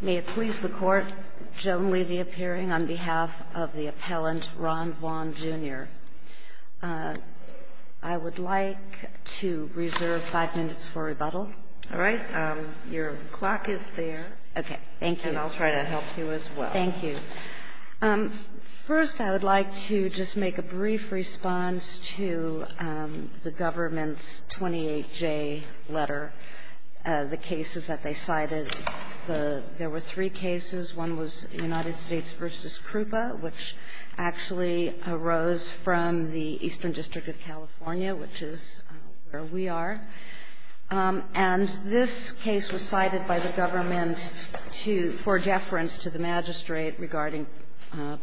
May it please the Court, Joan Levy appearing on behalf of the appellant Ron Vaughn, Jr. I would like to reserve five minutes for rebuttal. All right. Your clock is there. Okay. Thank you. And I'll try to help you as well. Thank you. First, I would like to just make a brief response to the government's 28J letter, the cases that they cited. There were three cases. One was United States v. CRUPA, which actually arose from the Eastern District of California, which is where we are. And this case was cited by the government for deference to the magistrate regarding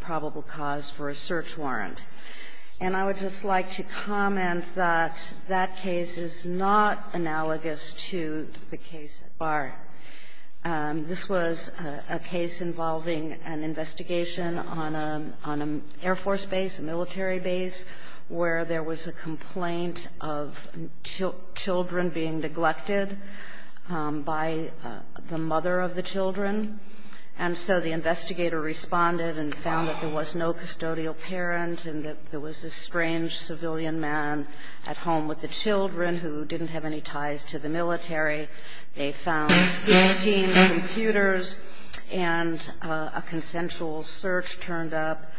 probable cause for a search warrant. And I would just like to comment that that case is not analogous to the case at Barr. This was a case involving an investigation on an Air Force base, a military base, where there was a complaint of children being neglected by the mother of the children. And so the investigator responded and found that there was no custodial parent and that there was a strange civilian man at home with the children who didn't have any ties to the military. They found 14 computers and a consensual search turned up.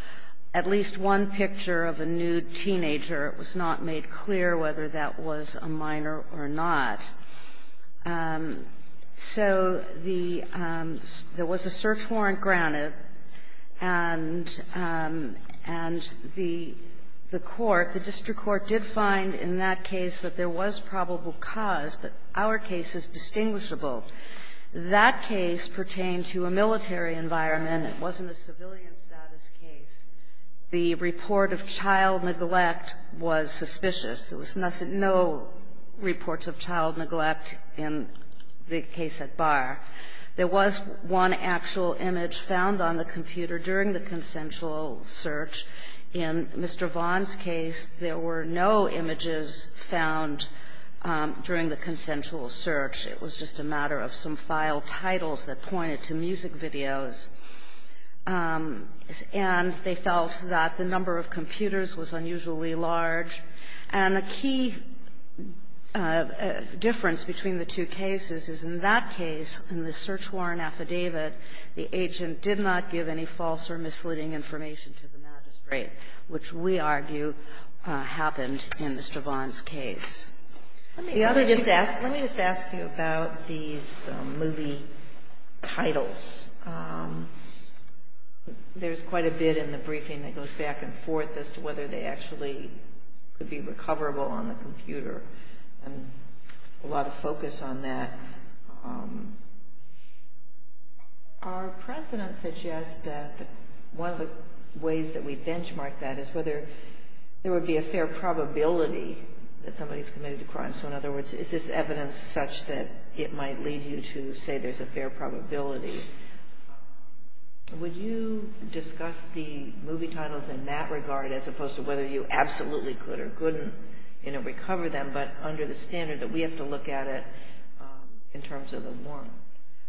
At least one picture of a nude teenager. It was not made clear whether that was a minor or not. So there was a search warrant granted, and the court, the district court, did find in that case that there was probable cause, but our case is distinguishable. That case pertained to a military environment. It wasn't a civilian status case. The report of child neglect was suspicious. There was no reports of child neglect in the case at Barr. There was one actual image found on the computer during the consensual search. In Mr. Vaughan's case, there were no images found during the consensual search. It was just a matter of some file titles that pointed to music videos. And they felt that the number of computers was unusually large. And the key difference between the two cases is, in that case, in the search warrant affidavit, the agent did not give any false or misleading information to the magistrate, which we argue happened in Mr. Vaughan's case. The other issue is that the other issue is that the other issue is that the other issue is that the other issue is that the other issue is that the other issue is that the to be recoverable, on the computer. A lot of focus on that. Our precedent suggests that one of the ways we benchmark that is whether there would be a fair probability that somebody's committed the crime. So in other words, is this evidence such that it might lead you to say there's a fair probability? Would you discuss the movie titles in that regard? As opposed to whether you absolutely could or couldn't, you know, recover them. But under the standard that we have to look at it in terms of the warrant.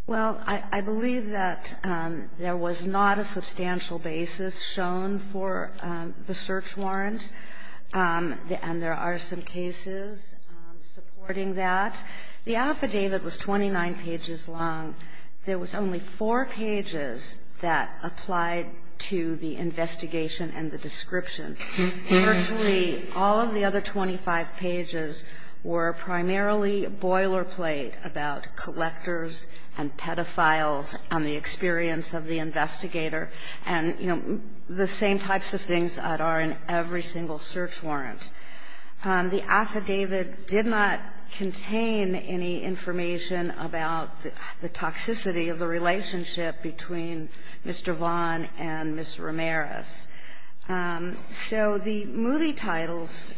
Well, I believe that there was not a substantial basis shown for the search warrant. And there are some cases supporting that. The affidavit was 29 pages long. There was only four pages that applied to the investigation and the description. Virtually all of the other 25 pages were primarily boilerplate about collectors and pedophiles and the experience of the investigator. And, you know, the same types of things that are in every single search warrant. The affidavit did not contain any information about the toxicity of the relationship between Mr. Vaughn and Ms. Ramirez. So the movie titles,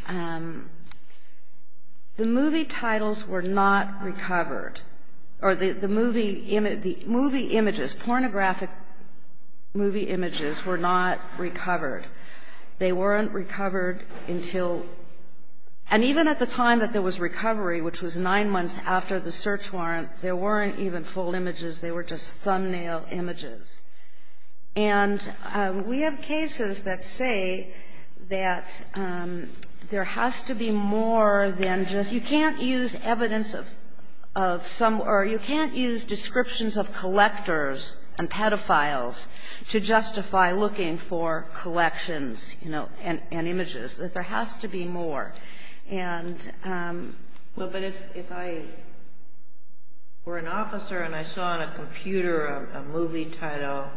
the movie titles were not recovered, or the movie images, pornographic movie images were not recovered. They weren't recovered until – and even at the time that there was recovery, which was nine months after the search warrant, there weren't even full images. They were just thumbnail images. And we have cases that say that there has to be more than just – you can't use evidence of some – or you can't use descriptions of collectors and pedophiles to justify looking for collections, you know, and images. That there has to be more. And – Well, but if I were an officer and I saw on a computer a movie title,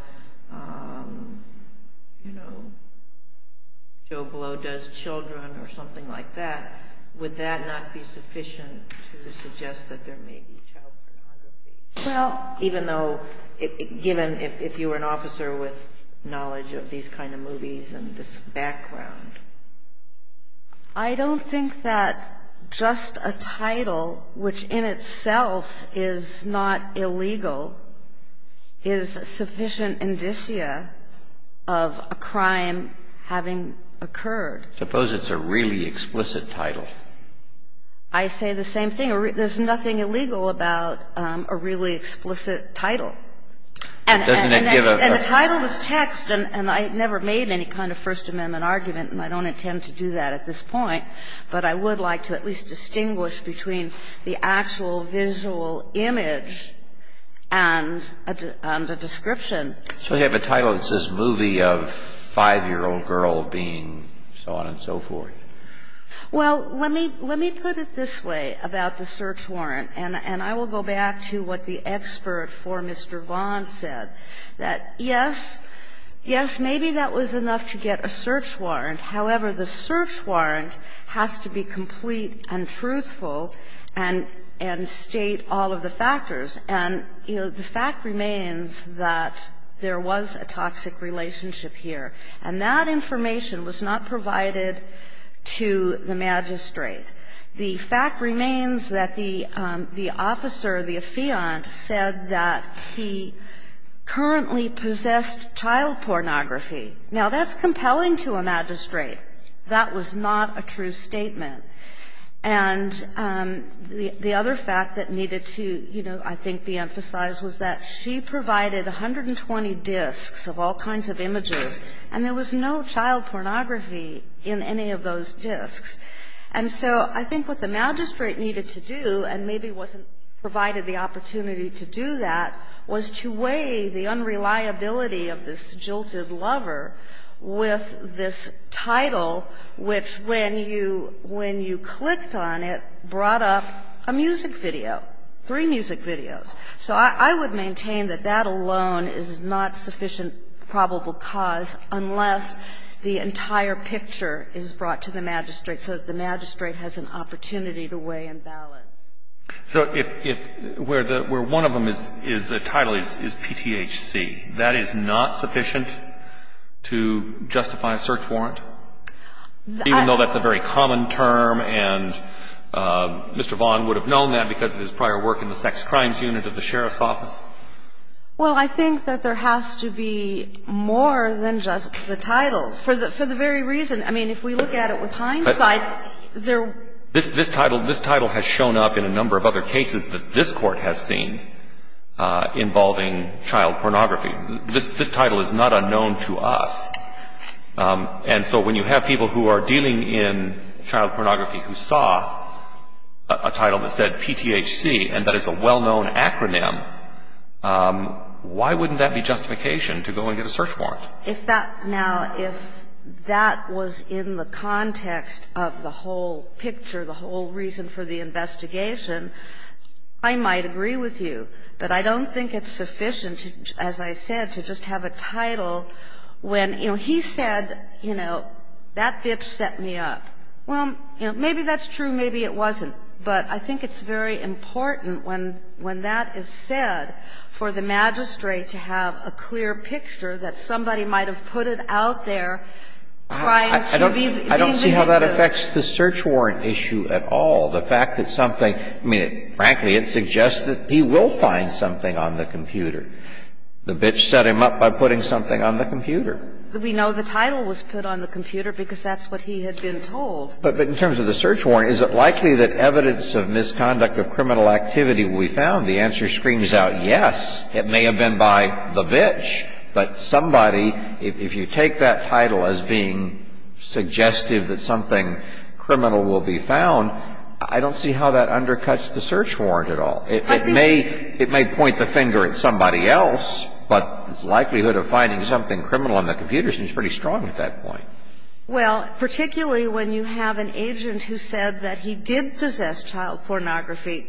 you know, Joe Blow Does Children or something like that, would that not be sufficient to suggest that there may be child pornography? Well, even though – given if you were an officer with knowledge of these kind of movies and this background. I don't think that just a title, which in itself is not illegal, is sufficient indicia of a crime having occurred. Suppose it's a really explicit title. I say the same thing. There's nothing illegal about a really explicit title. And the title is text, and I never made any kind of First Amendment argument, and I don't intend to do that at this point. But I would like to at least distinguish between the actual visual image and the description. So you have a title that says movie of 5-year-old girl being so on and so forth. Well, let me put it this way about the search warrant, and I will go back to what the expert for Mr. Vaughan said, that yes, yes, maybe that was enough to get a search warrant. However, the search warrant has to be complete and truthful and state all of the factors. And, you know, the fact remains that there was a toxic relationship here, and that was not a true statement to the magistrate. The fact remains that the officer, the affiant, said that he currently possessed child pornography. Now, that's compelling to a magistrate. That was not a true statement. And the other fact that needed to, you know, I think be emphasized was that she provided 120 disks of all kinds of images, and there was no child pornography in any of those disks. And so I think what the magistrate needed to do, and maybe wasn't provided the opportunity to do that, was to weigh the unreliability of this jilted lover with this title, which when you clicked on it, brought up a music video, three music videos. So I would maintain that that alone is not sufficient probable cause unless the entire picture is brought to the magistrate so that the magistrate has an opportunity to weigh and balance. So if where the one of them is a title is PTHC, that is not sufficient to justify a search warrant, even though that's a very common term and Mr. Vaughan would have said, well, that's a crime unit of the sheriff's office. Well, I think that there has to be more than just the title for the very reason. I mean, if we look at it with hindsight, there This title has shown up in a number of other cases that this Court has seen involving child pornography. This title is not unknown to us. And so when you have people who are dealing in child pornography who saw a title that said PTHC and that is a well-known acronym, why wouldn't that be justification to go and get a search warrant? Now, if that was in the context of the whole picture, the whole reason for the investigation, I might agree with you. But I don't think it's sufficient, as I said, to just have a title when, you know, he said, you know, that bitch set me up. Well, you know, maybe that's true, maybe it wasn't. But I think it's very important when that is said for the magistrate to have a clear picture that somebody might have put it out there trying to be the victim. I don't see how that affects the search warrant issue at all. The fact that something – I mean, frankly, it suggests that he will find something on the computer. The bitch set him up by putting something on the computer. We know the title was put on the computer because that's what he had been told. But in terms of the search warrant, is it likely that evidence of misconduct of criminal activity will be found? The answer screams out yes. It may have been by the bitch. But somebody, if you take that title as being suggestive that something criminal will be found, I don't see how that undercuts the search warrant at all. It may point the finger at somebody else, but the likelihood of finding something criminal on the computer seems pretty strong at that point. Well, particularly when you have an agent who said that he did possess child pornography,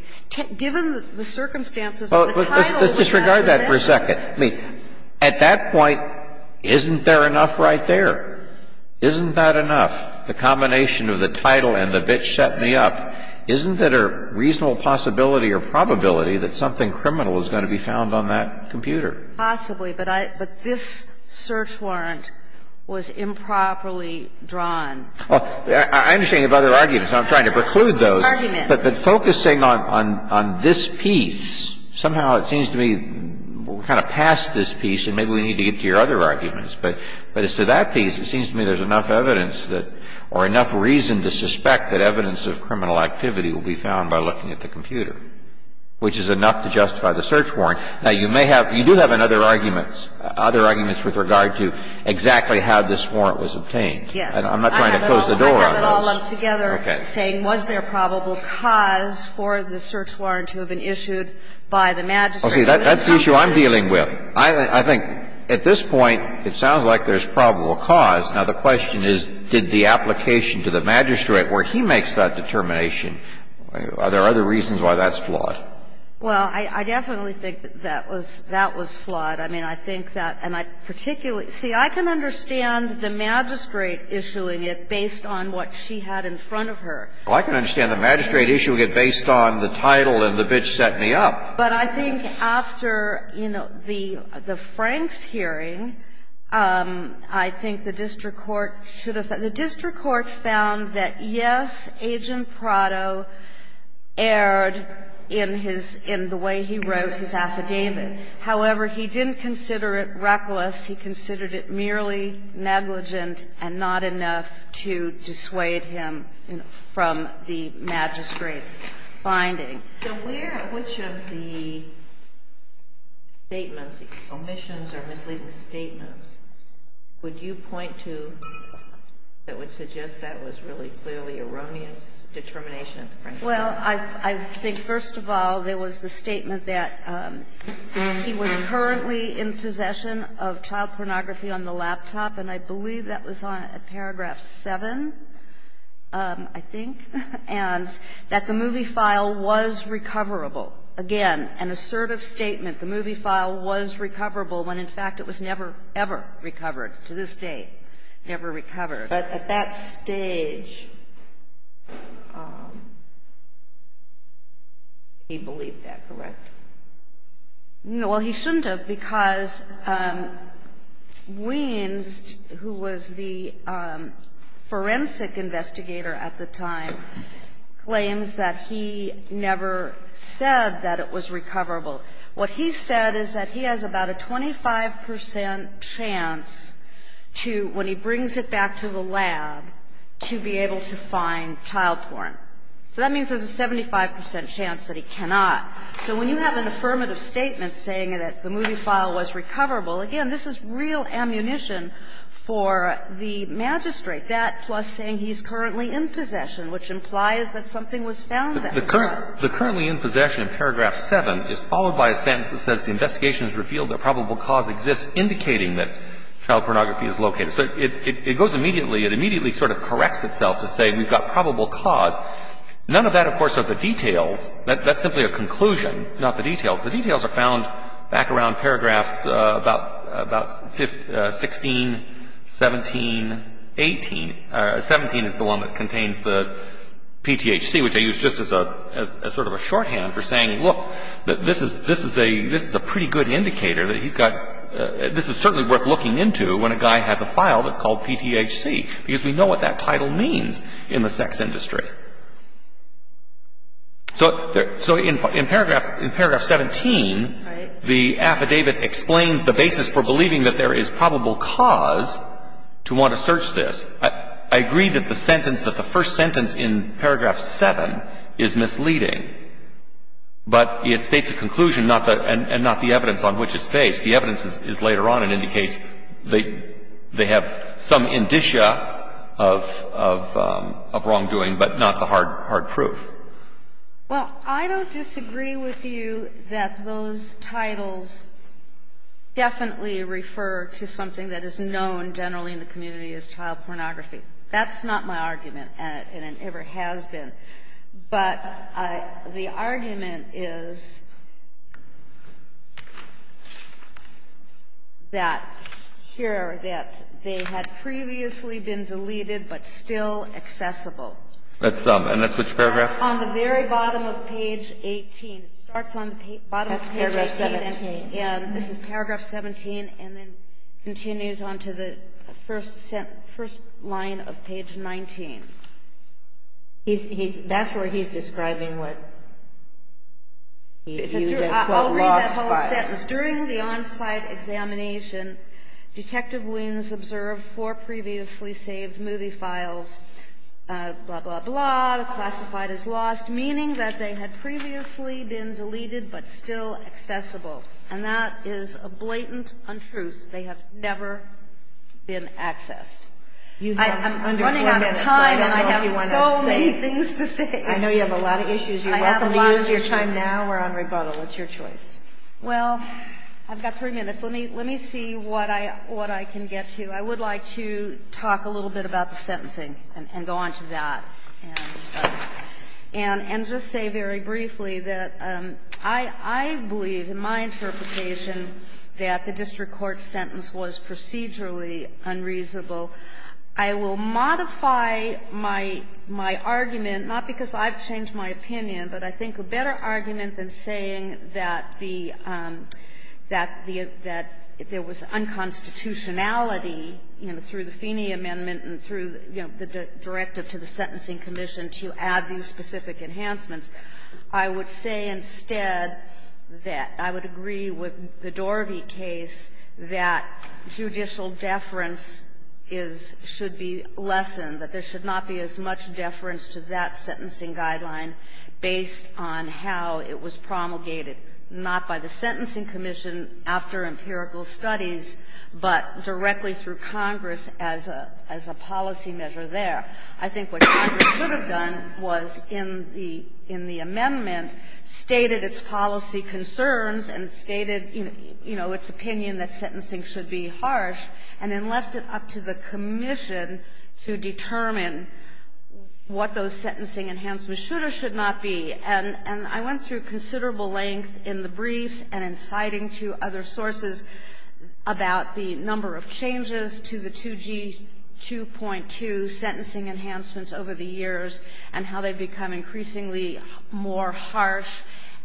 given the circumstances of the title of the matter there. Well, let's disregard that for a second. I mean, at that point, isn't there enough right there? Isn't that enough, the combination of the title and the bitch set me up? Isn't there a reasonable possibility or probability that something criminal is going to be found on that computer? Possibly, but I – but this search warrant was improperly drawn. Well, I understand you have other arguments, and I'm trying to preclude those. Arguments. But focusing on this piece, somehow it seems to me we're kind of past this piece and maybe we need to get to your other arguments. But as to that piece, it seems to me there's enough evidence that – or enough reason to suspect that evidence of criminal activity will be found by looking at the computer, which is enough to justify the search warrant. Now, you may have – you do have other arguments, other arguments with regard to exactly how this warrant was obtained. Yes. I'm not trying to close the door on those. I have it all lumped together, saying was there probable cause for the search warrant to have been issued by the magistrate. Okay. That's the issue I'm dealing with. I think at this point, it sounds like there's probable cause. Now, the question is, did the application to the magistrate where he makes that determination, are there other reasons why that's flawed? Well, I definitely think that that was flawed. I mean, I think that – and I particularly – see, I can understand the magistrate issuing it based on what she had in front of her. Well, I can understand the magistrate issuing it based on the title of the bitch setting me up. But I think after, you know, the Franks hearing, I think the district court should that, yes, Agent Prado erred in his – in the way he wrote his affidavit. However, he didn't consider it reckless. He considered it merely negligent and not enough to dissuade him from the magistrate's finding. So where – which of the statements, omissions or misleading statements, would you point to that would suggest that was really clearly erroneous determination of the Franks? Well, I think first of all, there was the statement that he was currently in possession of child pornography on the laptop, and I believe that was on paragraph 7, I think, and that the movie file was recoverable. Again, an assertive statement. The movie file was recoverable when, in fact, it was never ever recovered, to this date never recovered. But at that stage, he believed that, correct? Well, he shouldn't have, because Wienst, who was the forensic investigator at the time, claims that he never said that it was recoverable. What he said is that he has about a 25 percent chance to, when he brings it back to the lab, to be able to find child porn. So that means there's a 75 percent chance that he cannot. So when you have an affirmative statement saying that the movie file was recoverable, again, this is real ammunition for the magistrate. That plus saying he's currently in possession, which implies that something was found there. The currently in possession, paragraph 7, is followed by a sentence that says the investigation has revealed that probable cause exists, indicating that child pornography is located. So it goes immediately, it immediately sort of corrects itself to say we've got probable cause. None of that, of course, of the details. That's simply a conclusion, not the details. The details are found back around paragraphs about 16, 17, 18. 17 is the one that contains the PTHC, which I use just as a sort of a shorthand for saying, look, this is a pretty good indicator that he's got – this is certainly worth looking into when a guy has a file that's called PTHC, because we know what that title means in the sex industry. So in paragraph 17, the affidavit explains the basis for believing that there is probable cause to want to search this. I agree that the sentence – that the first sentence in paragraph 7 is misleading, but it states a conclusion, not the – and not the evidence on which it's based. The evidence is later on and indicates they have some indicia of wrongdoing, but not the hard proof. Well, I don't disagree with you that those titles definitely refer to something that is known generally in the community as child pornography. That's not my argument, and it never has been. But the argument is that here, that they had previously been deleted but still accessible. That's – and that's which paragraph? That's on the very bottom of page 18. It starts on the bottom of page 18. That's paragraph 17. And this is paragraph 17, and then continues on to the first line of page 19. That's where he's describing what he used as, quote, lost files. I'll read that whole sentence. During the on-site examination, Detective Wiens observed four previously saved movie files, blah, blah, blah, classified as lost, meaning that they had previously been deleted but still accessible. And that is a blatant untruth. They have never been accessed. I'm running out of time, and I have so many things to say. I know you have a lot of issues. You're welcome to use your time now. We're on rebuttal. It's your choice. Well, I've got three minutes. Let me see what I can get to. I would like to talk a little bit about the sentencing and go on to that, and just say very briefly that I believe, in my interpretation, that the district court's sentence was procedurally unreasonable. I will modify my argument, not because I've changed my opinion, but I think a better argument than saying that the unconstitutionality, you know, through the Feeney Sentencing Commission, to add these specific enhancements, I would say instead that I would agree with the Dorvey case that judicial deference is, should be lessened, that there should not be as much deference to that sentencing guideline based on how it was promulgated, not by the Sentencing Commission after empirical studies, but directly through Congress as a policy measure there. I think what Congress should have done was, in the amendment, stated its policy concerns and stated, you know, its opinion that sentencing should be harsh, and then left it up to the commission to determine what those sentencing enhancements should or should not be. And I went through considerable length in the briefs and in citing to other sources about the number of changes to the 2G2.2 sentencing enhancements over the years, and how they've become increasingly more harsh.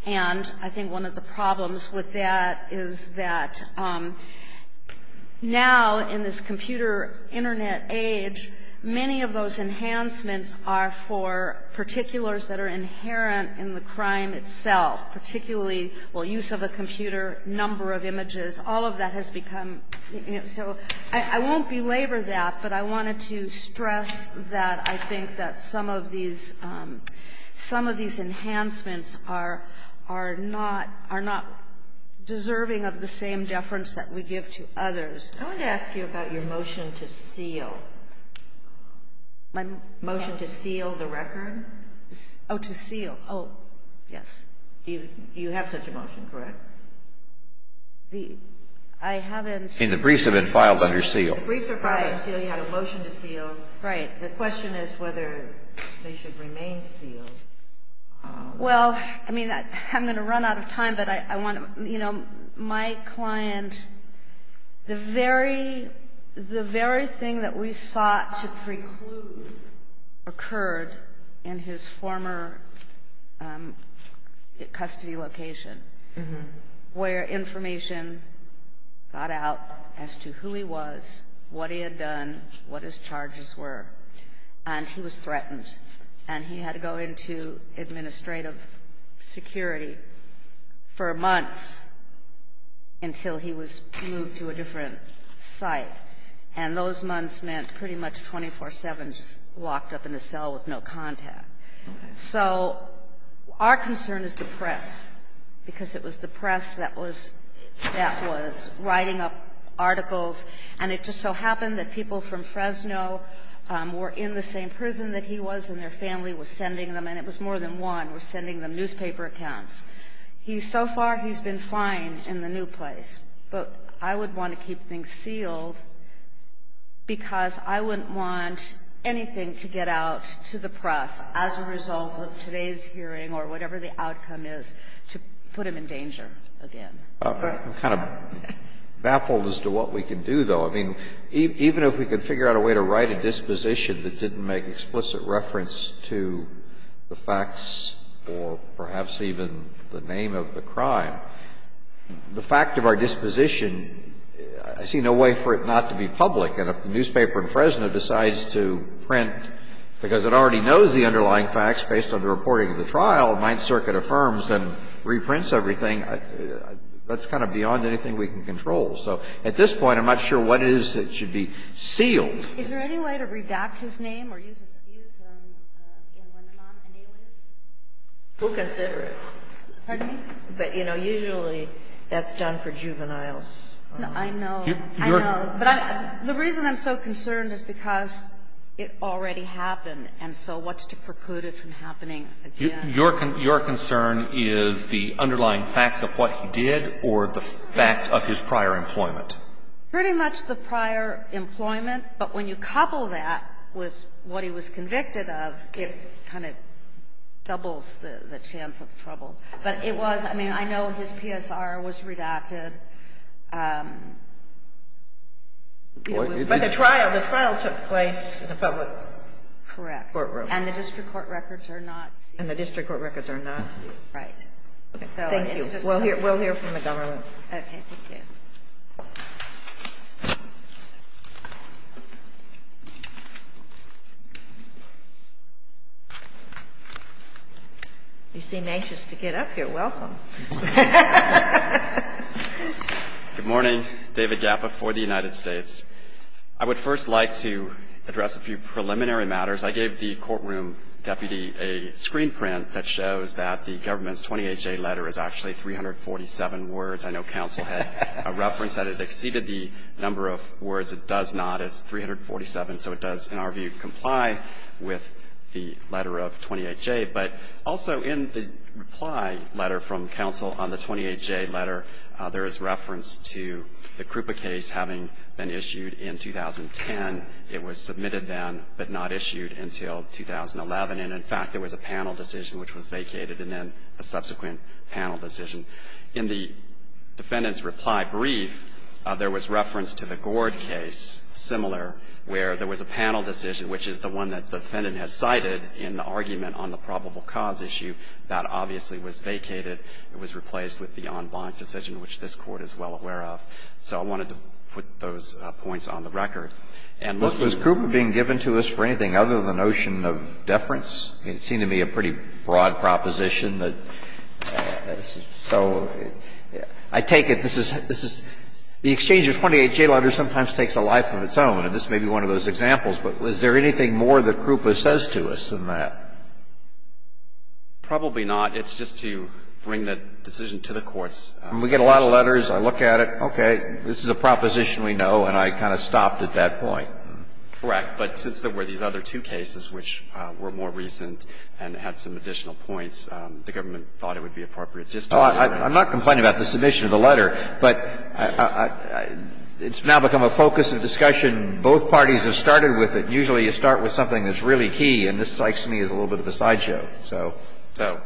And I think one of the problems with that is that now, in this computer internet age, many of those enhancements are for particulars that are inherent in the crime itself, particularly, well, use of a computer, number of images. All of that has become so – I won't belabor that, but I wanted to stress that I think that some of these enhancements are not deserving of the same deference that we give to others. I wanted to ask you about your motion to seal. My motion to seal the record? Oh, to seal. Oh, yes. You have such a motion, correct? The – I haven't – And the briefs have been filed under seal. The briefs are filed under seal. You had a motion to seal. Right. The question is whether they should remain sealed. Well, I mean, I'm going to run out of time, but I want to – you know, my client – the very thing that we sought to preclude occurred in his former custody location, where information got out as to who he was, what he had done, what his charges were, and he was threatened. And he had to go into administrative security for months until he was moved to a different site. And those months meant pretty much 24-7, just locked up in a cell with no contact. So our concern is the press, because it was the press that was – that was writing up articles. And it just so happened that people from Fresno were in the same prison that he was, and their family was sending them – and it was more than one – were sending them newspaper accounts. He's – so far, he's been fine in the new place. But I would want to keep things sealed because I wouldn't want anything to get out to the press as a result of today's hearing or whatever the outcome is to put him in danger again. I'm kind of baffled as to what we can do, though. I mean, even if we could figure out a way to write a disposition that didn't make explicit reference to the facts or perhaps even the name of the crime, the fact of our disposition – I see no way for it not to be public. And if the newspaper in Fresno decides to print because it already knows the underlying That's kind of beyond anything we can control. So at this point, I'm not sure what it is that should be sealed. Is there any way to redact his name or use his – use him in one of the non-annualities? We'll consider it. Pardon me? But, you know, usually that's done for juveniles. I know. I know. But I – the reason I'm so concerned is because it already happened, and so what's to preclude it from happening again? Your concern is the underlying facts of what he did or the fact of his prior employment? Pretty much the prior employment. But when you couple that with what he was convicted of, it kind of doubles the chance of trouble. But it was – I mean, I know his PSR was redacted. But the trial – the trial took place in a public courtroom. Correct. In a public courtroom. And the district court records are not sealed. And the district court records are not sealed. Right. Thank you. We'll hear from the government. Okay. Thank you. You seem anxious to get up here. Welcome. Good morning. David Gappa for the United States. I would first like to address a few preliminary matters. I gave the courtroom deputy a screen print that shows that the government's 28J letter is actually 347 words. I know counsel had a reference that it exceeded the number of words it does not. It's 347. So it does, in our view, comply with the letter of 28J. But also in the reply letter from counsel on the 28J letter, there is reference to the Krupa case having been issued in 2010. It was submitted then but not issued until 2011. And, in fact, there was a panel decision which was vacated and then a subsequent panel decision. In the defendant's reply brief, there was reference to the Gord case, similar, where there was a panel decision, which is the one that the defendant has cited in the argument on the probable cause issue. That obviously was vacated. It was replaced with the en banc decision, which this Court is well aware of. So I wanted to put those points on the record. And looking at it. Alito, was Krupa being given to us for anything other than the notion of deference? It seemed to me a pretty broad proposition. So I take it this is the exchange of 28J letters sometimes takes a life of its own. And this may be one of those examples. But is there anything more that Krupa says to us than that? Probably not. It's just to bring the decision to the courts. We get a lot of letters. I look at it. This is a proposition we know. And I kind of stopped at that point. Correct. But since there were these other two cases which were more recent and had some additional points, the government thought it would be appropriate to just talk about it. I'm not complaining about the submission of the letter. But it's now become a focus of discussion. Both parties have started with it. Usually you start with something that's really key. And this strikes me as a little bit of a sideshow. So. So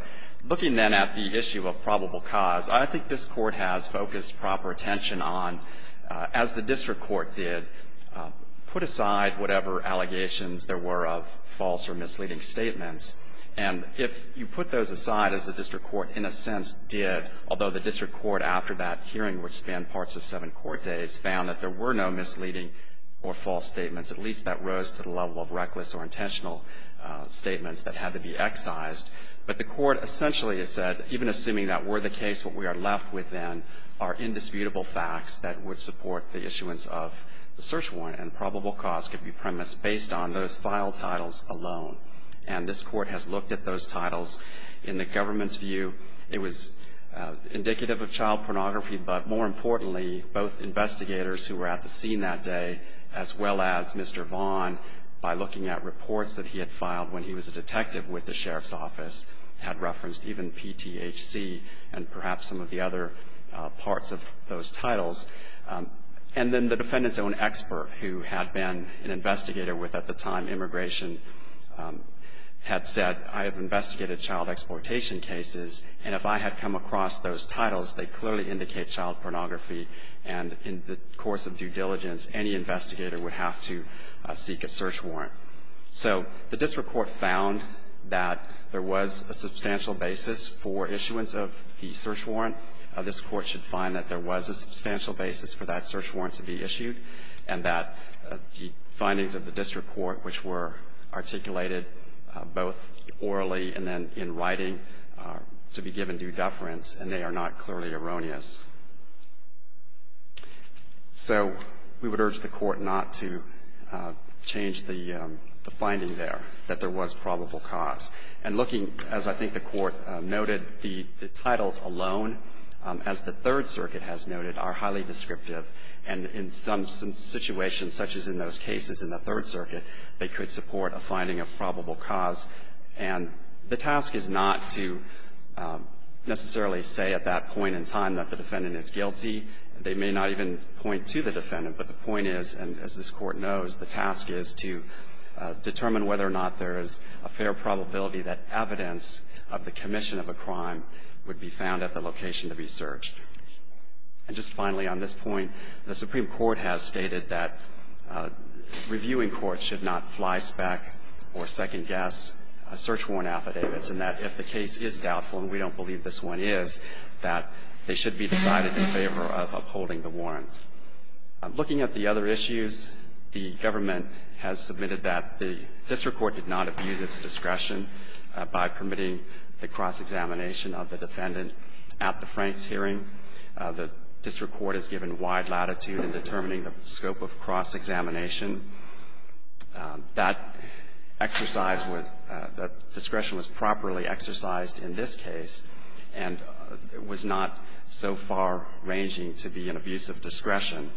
looking then at the issue of probable cause, I think this Court has focused proper attention on, as the district court did, put aside whatever allegations there were of false or misleading statements. And if you put those aside, as the district court in a sense did, although the district court after that hearing, which spanned parts of seven court days, found that there were no misleading or false statements, at least that rose to the level of reckless or intentional statements that had to be excised. But the court essentially has said, even assuming that were the case, what we are left with then are indisputable facts that would support the issuance of the search warrant, and probable cause could be premised based on those file titles alone. And this Court has looked at those titles. In the government's view, it was indicative of child pornography, but more importantly, both investigators who were at the scene that day, as well as Mr. Vaughn, by looking at reports that he had filed when he was a detective with the sheriff's office, had referenced even PTHC and perhaps some of the other parts of those titles. And then the defendant's own expert, who had been an investigator with, at the time, Immigration, had said, I have investigated child exploitation cases, and if I had come across those titles, they clearly indicate child pornography, and in the course of due diligence, any investigator would have to seek a search warrant. So the district court found that there was a substantial basis for issuance of the search warrant. This Court should find that there was a substantial basis for that search warrant to be issued, and that the findings of the district court, which were articulated both orally and then in writing, are to be given due deference, and they are not clearly erroneous. So we would urge the Court not to change the finding there, that there was probable cause. And looking, as I think the Court noted, the titles alone, as the Third Circuit has noted, are highly descriptive, and in some situations, such as in those cases in the Third Circuit, they could support a finding of probable cause. And the task is not to necessarily say at that point in time that the defendant is guilty. They may not even point to the defendant, but the point is, and as this Court knows, the task is to determine whether or not there is a fair probability that evidence of the commission of a crime would be found at the location to be searched. And just finally, on this point, the Supreme Court has stated that reviewing court should not flyspeck or second-guess search warrant affidavits, and that if the case is doubtful, and we don't believe this one is, that they should be decided in favor of upholding the warrants. Looking at the other issues, the government has submitted that the district court did not abuse its discretion by permitting the cross-examination of the defendant at the Franks hearing. The district court has given wide latitude in determining the scope of cross-examination. That exercise was the discretion was properly exercised in this case, and it was not so far-ranging to be an abuse of discretion.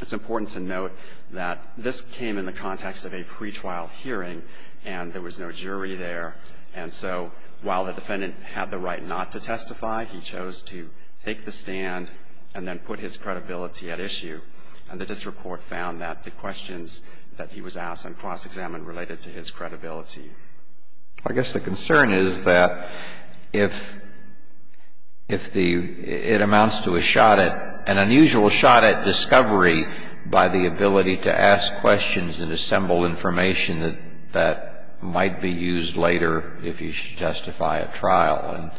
It's important to note that this came in the context of a pretrial hearing, and there was no jury there. And so while the defendant had the right not to testify, he chose to take the stand and then put his credibility at issue. And the district court found that the questions that he was asked on cross-examination related to his credibility. I guess the concern is that if the — it amounts to a shot at — an unusual shot at discovery by the ability to ask questions and assemble information that might be used later if he should testify at trial.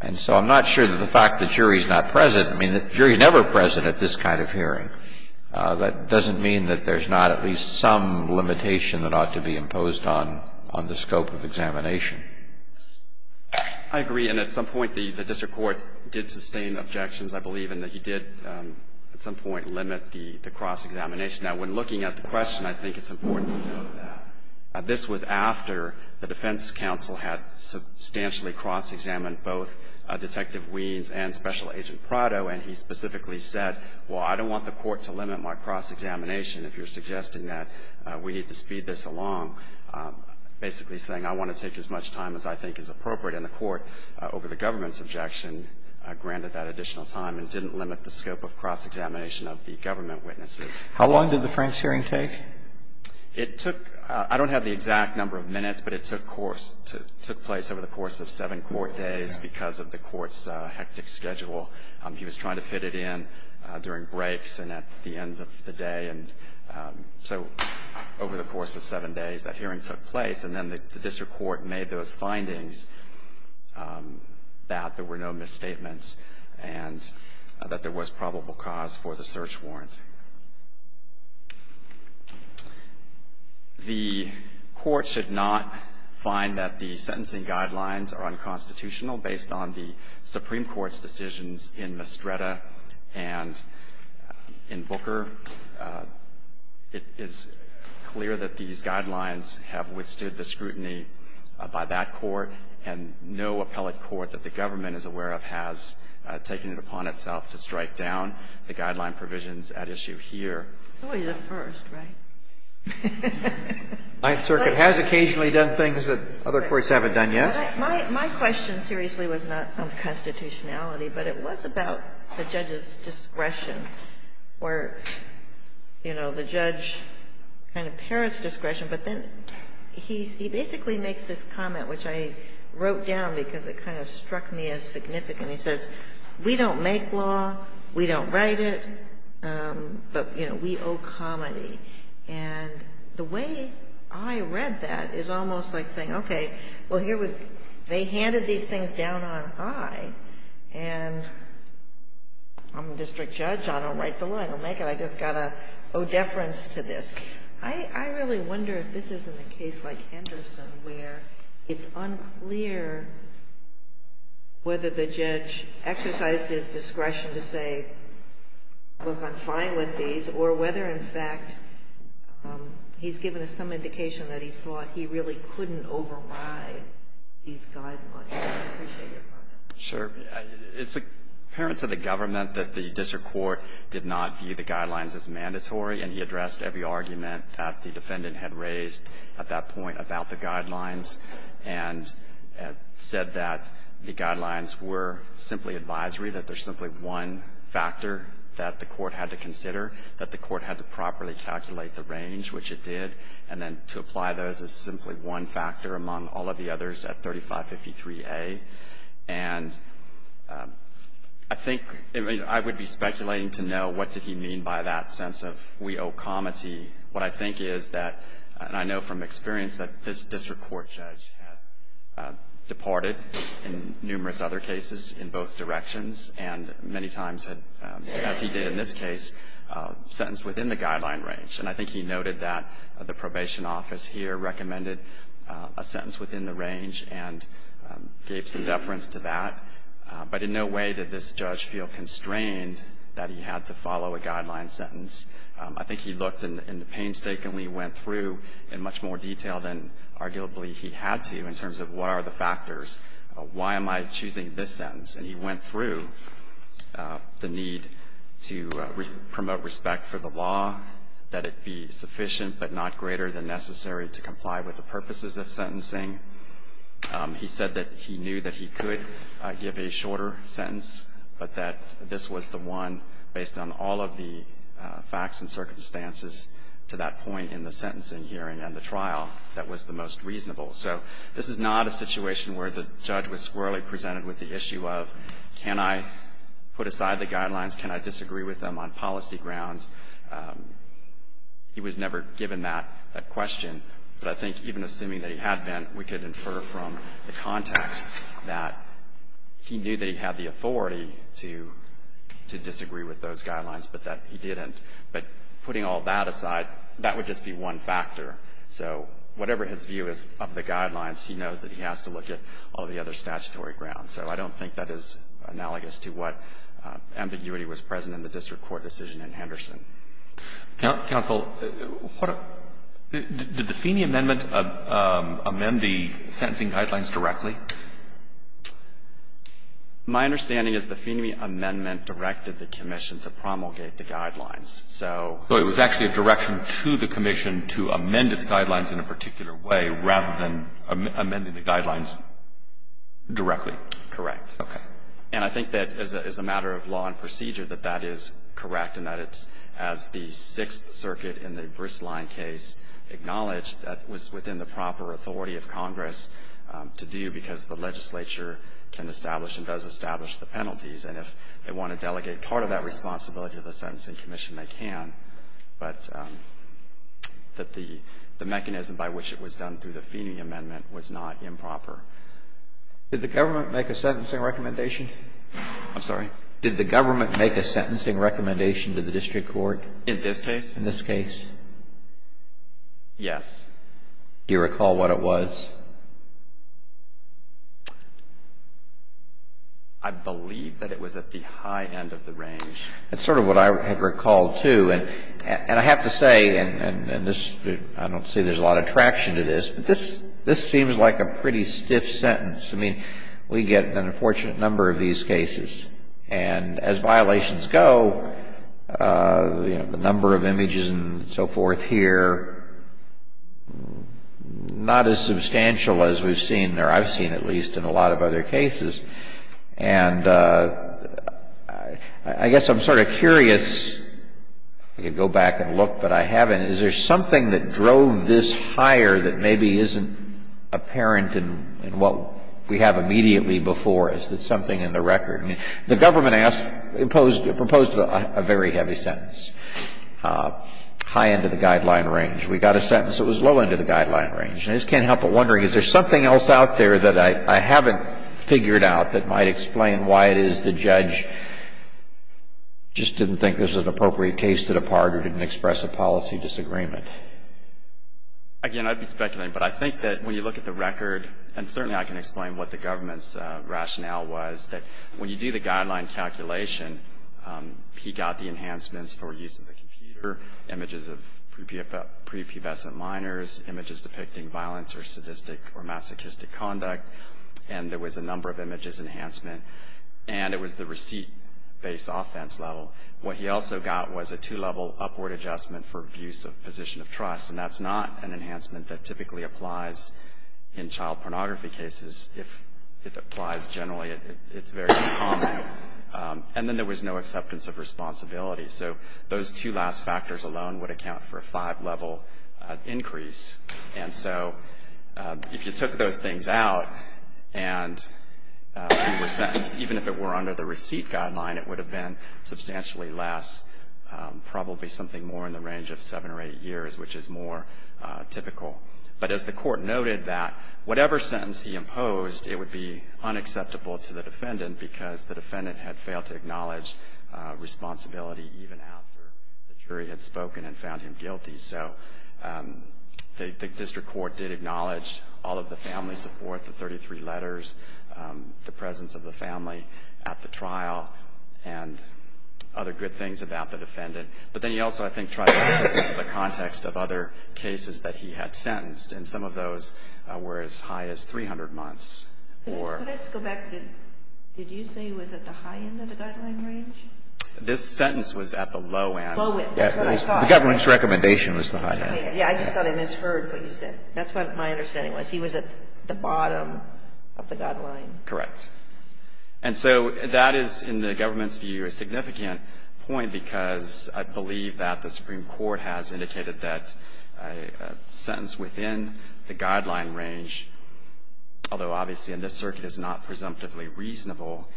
And so I'm not sure that the fact the jury is not present — I mean, the jury is never present at this kind of hearing. That doesn't mean that there's not at least some limitation that ought to be imposed on the scope of examination. I agree. And at some point, the district court did sustain objections, I believe, in that he did at some point limit the cross-examination. Now, when looking at the question, I think it's important to note that this was after the defense counsel had substantially cross-examined both Detective Weems and Special Agent Prado, and he specifically said, well, I don't want the court to limit my cross-examination if you're suggesting that we need to speed this along, basically saying I want to take as much time as I think is appropriate. And the court, over the government's objection, granted that additional time and didn't limit the scope of cross-examination of the government witnesses. How long did the French hearing take? It took — I don't have the exact number of minutes, but it took place over the course of seven court days because of the court's hectic schedule. He was trying to fit it in during breaks and at the end of the day. And so over the course of seven days, that hearing took place, and then the district court made those findings that there were no misstatements and that there was probable cause for the search warrant. The Court should not find that the sentencing guidelines are unconstitutional based on the Supreme Court's decisions in Mestreda and in Booker. It is clear that these guidelines have withstood the scrutiny by that court, and no appellate court that the government is aware of has taken it upon itself to strike down the guideline provisions at issue here. It's always a first, right? The Ninth Circuit has occasionally done things that other courts haven't done yet. My question seriously was not on constitutionality, but it was about the judge's discretion or, you know, the judge kind of parrot's discretion. But then he basically makes this comment, which I wrote down because it kind of struck me as significant. And he says, we don't make law, we don't write it, but, you know, we owe comedy. And the way I read that is almost like saying, okay, well, here we go. They handed these things down on I, and I'm a district judge. I don't write the law. I don't make it. I just got to owe deference to this. I really wonder if this isn't a case like Henderson, where it's unclear whether the judge exercised his discretion to say, look, I'm fine with these, or whether in fact he's given us some indication that he thought he really couldn't override these guidelines. I appreciate your comment. Sure. It's apparent to the government that the district court did not view the guidelines as mandatory, and he addressed every argument that the defendant had raised at that point about the guidelines, and said that the guidelines were simply advisory, that there's simply one factor that the court had to consider, that the court had to properly calculate the range, which it did, and then to apply those as simply one factor among all of the others at 3553A. And I think, I mean, I would be speculating to know what did he mean by that sense of we owe comity. What I think is that, and I know from experience, that this district court judge had departed in numerous other cases in both directions, and many times had, as he did in this case, sentenced within the guideline range. And I think he noted that the probation office here recommended a sentence within the range and gave some deference to that. But in no way did this judge feel constrained that he had to follow a guideline sentence. I think he looked and painstakingly went through in much more detail than arguably he had to in terms of what are the factors. Why am I choosing this sentence? And he went through the need to promote respect for the law, that it be sufficient but not greater than necessary to comply with the purposes of sentencing. He said that he knew that he could give a shorter sentence, but that this was the one, based on all of the facts and circumstances to that point in the sentencing hearing and the trial, that was the most reasonable. So this is not a situation where the judge was squarely presented with the issue of can I put aside the guidelines, can I disagree with them on policy grounds. He was never given that question, but I think even assuming that he had been, we could infer from the context that he knew that he had the authority to disagree with those guidelines, but that he didn't. But putting all that aside, that would just be one factor. So whatever his view is of the guidelines, he knows that he has to look at all the other statutory grounds. So I don't think that is analogous to what ambiguity was present in the district court decision in Henderson. Now, counsel, did the Feeney amendment amend the sentencing guidelines directly? My understanding is the Feeney amendment directed the commission to promulgate the guidelines. So it was actually a direction to the commission to amend its guidelines in a particular way rather than amending the guidelines directly. Correct. Okay. And I think that as a matter of law and procedure, that that is correct in that it's as the Sixth Circuit in the Bristline case acknowledged, that was within the proper authority of Congress to do because the legislature can establish and does establish the penalties. And if they want to delegate part of that responsibility to the sentencing commission, they can, but that the mechanism by which it was done through the Feeney amendment was not improper. Did the government make a sentencing recommendation? I'm sorry. Did the government make a sentencing recommendation to the district court? In this case. In this case. Yes. Do you recall what it was? I believe that it was at the high end of the range. That's sort of what I had recalled, too. And I have to say, and I don't say there's a lot of traction to this, but this seems like a pretty stiff sentence. I mean, we get an unfortunate number of these cases. And as violations go, the number of images and so forth here, not as substantial as we've seen, or I've seen at least, in a lot of other cases. And I guess I'm sort of curious, I could go back and look, but I haven't, is there something that drove this higher that maybe isn't apparent in what we have immediately before us? Is there something in the record? I mean, the government asked, imposed, proposed a very heavy sentence, high end of the guideline range. We got a sentence that was low end of the guideline range. And I just can't help but wondering, is there something else out there that I haven't figured out that might explain why it is the judge just didn't think this was an appropriate case to depart or didn't express a policy disagreement? Again, I'd be speculating. But I think that when you look at the record, and certainly I can explain what the government's rationale was, that when you do the guideline calculation, he got the enhancements for use of the computer, images of prepubescent minors, images depicting violence or sadistic or masochistic conduct, and there was a number of images enhancement. And it was the receipt-based offense level. What he also got was a two-level upward adjustment for abuse of position of trust. And that's not an enhancement that typically applies in child pornography cases. If it applies generally, it's very uncommon. And then there was no acceptance of responsibility. So those two last factors alone would account for a five-level increase. And so if you took those things out and you were sentenced, even if it were under the statute, it would actually last probably something more in the range of seven or eight years, which is more typical. But as the court noted, that whatever sentence he imposed, it would be unacceptable to the defendant because the defendant had failed to acknowledge responsibility even after the jury had spoken and found him guilty. So the district court did acknowledge all of the family support, the 33 letters, the other good things about the defendant. But then he also, I think, tried to put this into the context of other cases that he had sentenced. And some of those were as high as 300 months. Or Can I just go back? Did you say he was at the high end of the guideline range? This sentence was at the low end. Low end. That's what I thought. The government's recommendation was the high end. Yeah. I just thought I misheard what you said. That's what my understanding was. He was at the bottom of the guideline. Correct. And so that is, in the government's view, a significant point because I believe that the Supreme Court has indicated that a sentence within the guideline range, although obviously in this circuit it's not presumptively reasonable,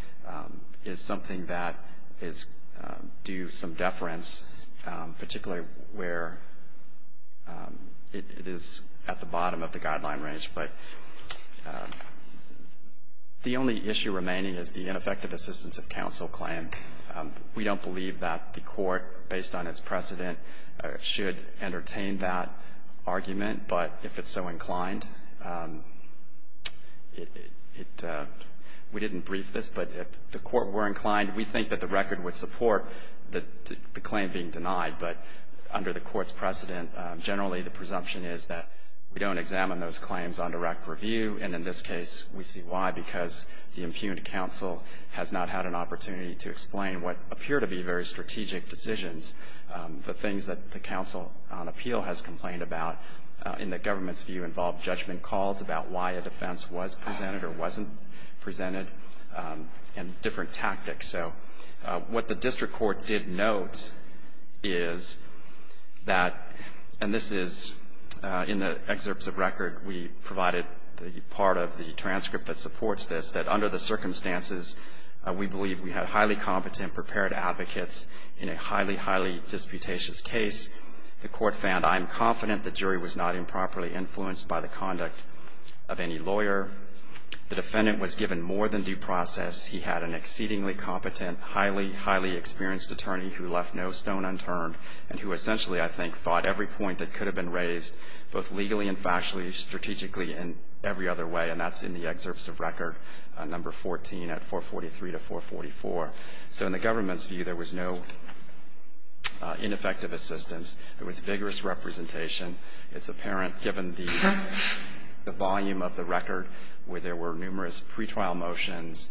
is something that is due some deference, particularly where it is at the bottom of the guideline range. But the only issue remaining is the ineffective assistance of counsel claim. We don't believe that the Court, based on its precedent, should entertain that argument. But if it's so inclined, we didn't brief this, but if the Court were inclined, we think that the record would support the claim being denied. But under the Court's precedent, generally the presumption is that we don't examine those claims on direct review, and in this case we see why, because the impugned counsel has not had an opportunity to explain what appear to be very strategic decisions, the things that the counsel on appeal has complained about in the government's view involve judgment calls about why a defense was presented or wasn't presented and different tactics. So what the district court did note is that, and this is in the excerpts of record we provided the part of the transcript that supports this, that under the circumstances we believe we had highly competent, prepared advocates in a highly, highly disputatious case. The Court found, I am confident the jury was not improperly influenced by the conduct of any lawyer. The defendant was given more than due process. He had an exceedingly competent, highly, highly experienced attorney who left no stone unturned and who essentially, I think, thought every point that could have been raised, both legally and factually, strategically and every other way, and that's in the excerpts of record number 14 at 443 to 444. So in the government's view, there was no ineffective assistance. There was vigorous representation. It's apparent given the volume of the record where there were numerous pretrial motions,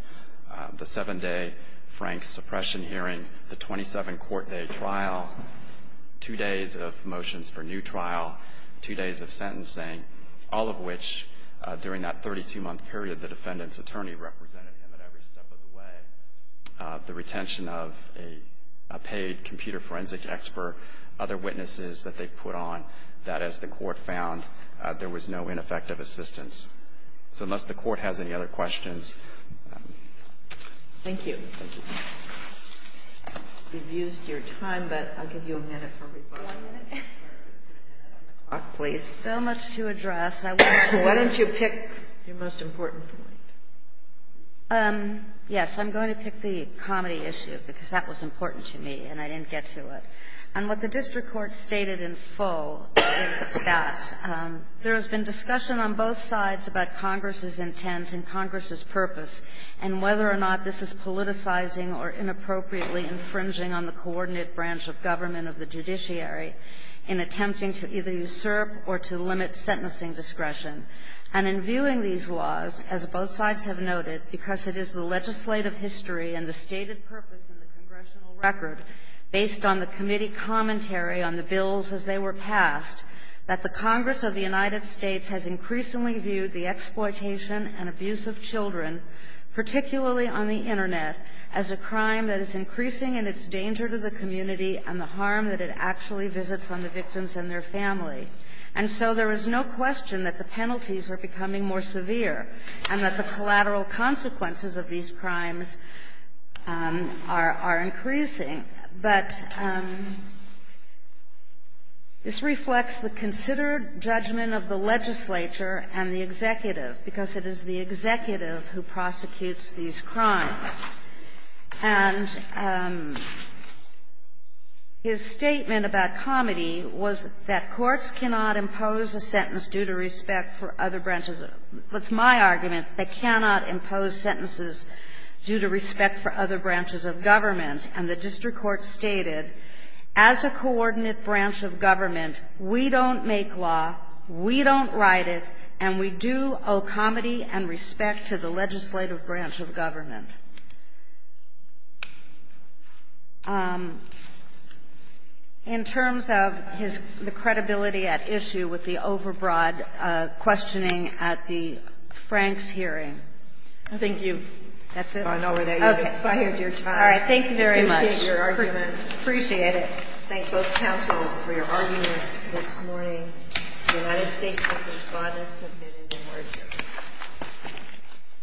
the seven-day Frank suppression hearing, the 27-court-day trial, two days of motions for new trial, two days of sentencing, all of which during that 32-month period, the defendant's attorney represented him at every step of the way, the retention of a paid computer forensic expert, other witnesses that they put on, that as the Court found, there was no ineffective assistance. So unless the Court has any other questions. Thank you. Thank you. We've used your time, but I'll give you a minute for rebuttal. One minute? So much to address. Why don't you pick your most important point? Yes. I'm going to pick the comedy issue because that was important to me and I didn't get to it. And what the district court stated in full is that there has been discussion on both sides about Congress's intent and Congress's purpose, and whether or not this is politicizing or inappropriately infringing on the coordinate branch of government of the judiciary in attempting to either usurp or to limit sentencing discretion. And in viewing these laws, as both sides have noted, because it is the legislative history and the stated purpose in the congressional record, based on the committee commentary on the bills as they were passed, that the Congress of the United States has increasingly viewed the exploitation and abuse of children, particularly on the Internet, as a crime that is increasing in its danger to the community and the harm that it actually visits on the victims and their family. And so there is no question that the penalties are becoming more severe and that the collateral consequences of these crimes are increasing. But this reflects the considered judgment of the legislature and the executive, because it is the executive who prosecutes these crimes. And his statement about comedy was that courts cannot impose a sentence due to respect for other branches of the ---- that's my argument, they cannot impose sentences due to respect for other branches of government. And the district court stated, as a coordinate branch of government, we don't make law, we don't write it, and we do owe comedy and respect to the legislative branch of government. In terms of his ---- the credibility at issue with the overbroad questioning at the Franks hearing. I think you've gone over that. You've expired your time. All right. Thank you very much. Appreciate your argument. Appreciate it. Thank both counsel for your argument this morning. The United States has responded. Submitted in order.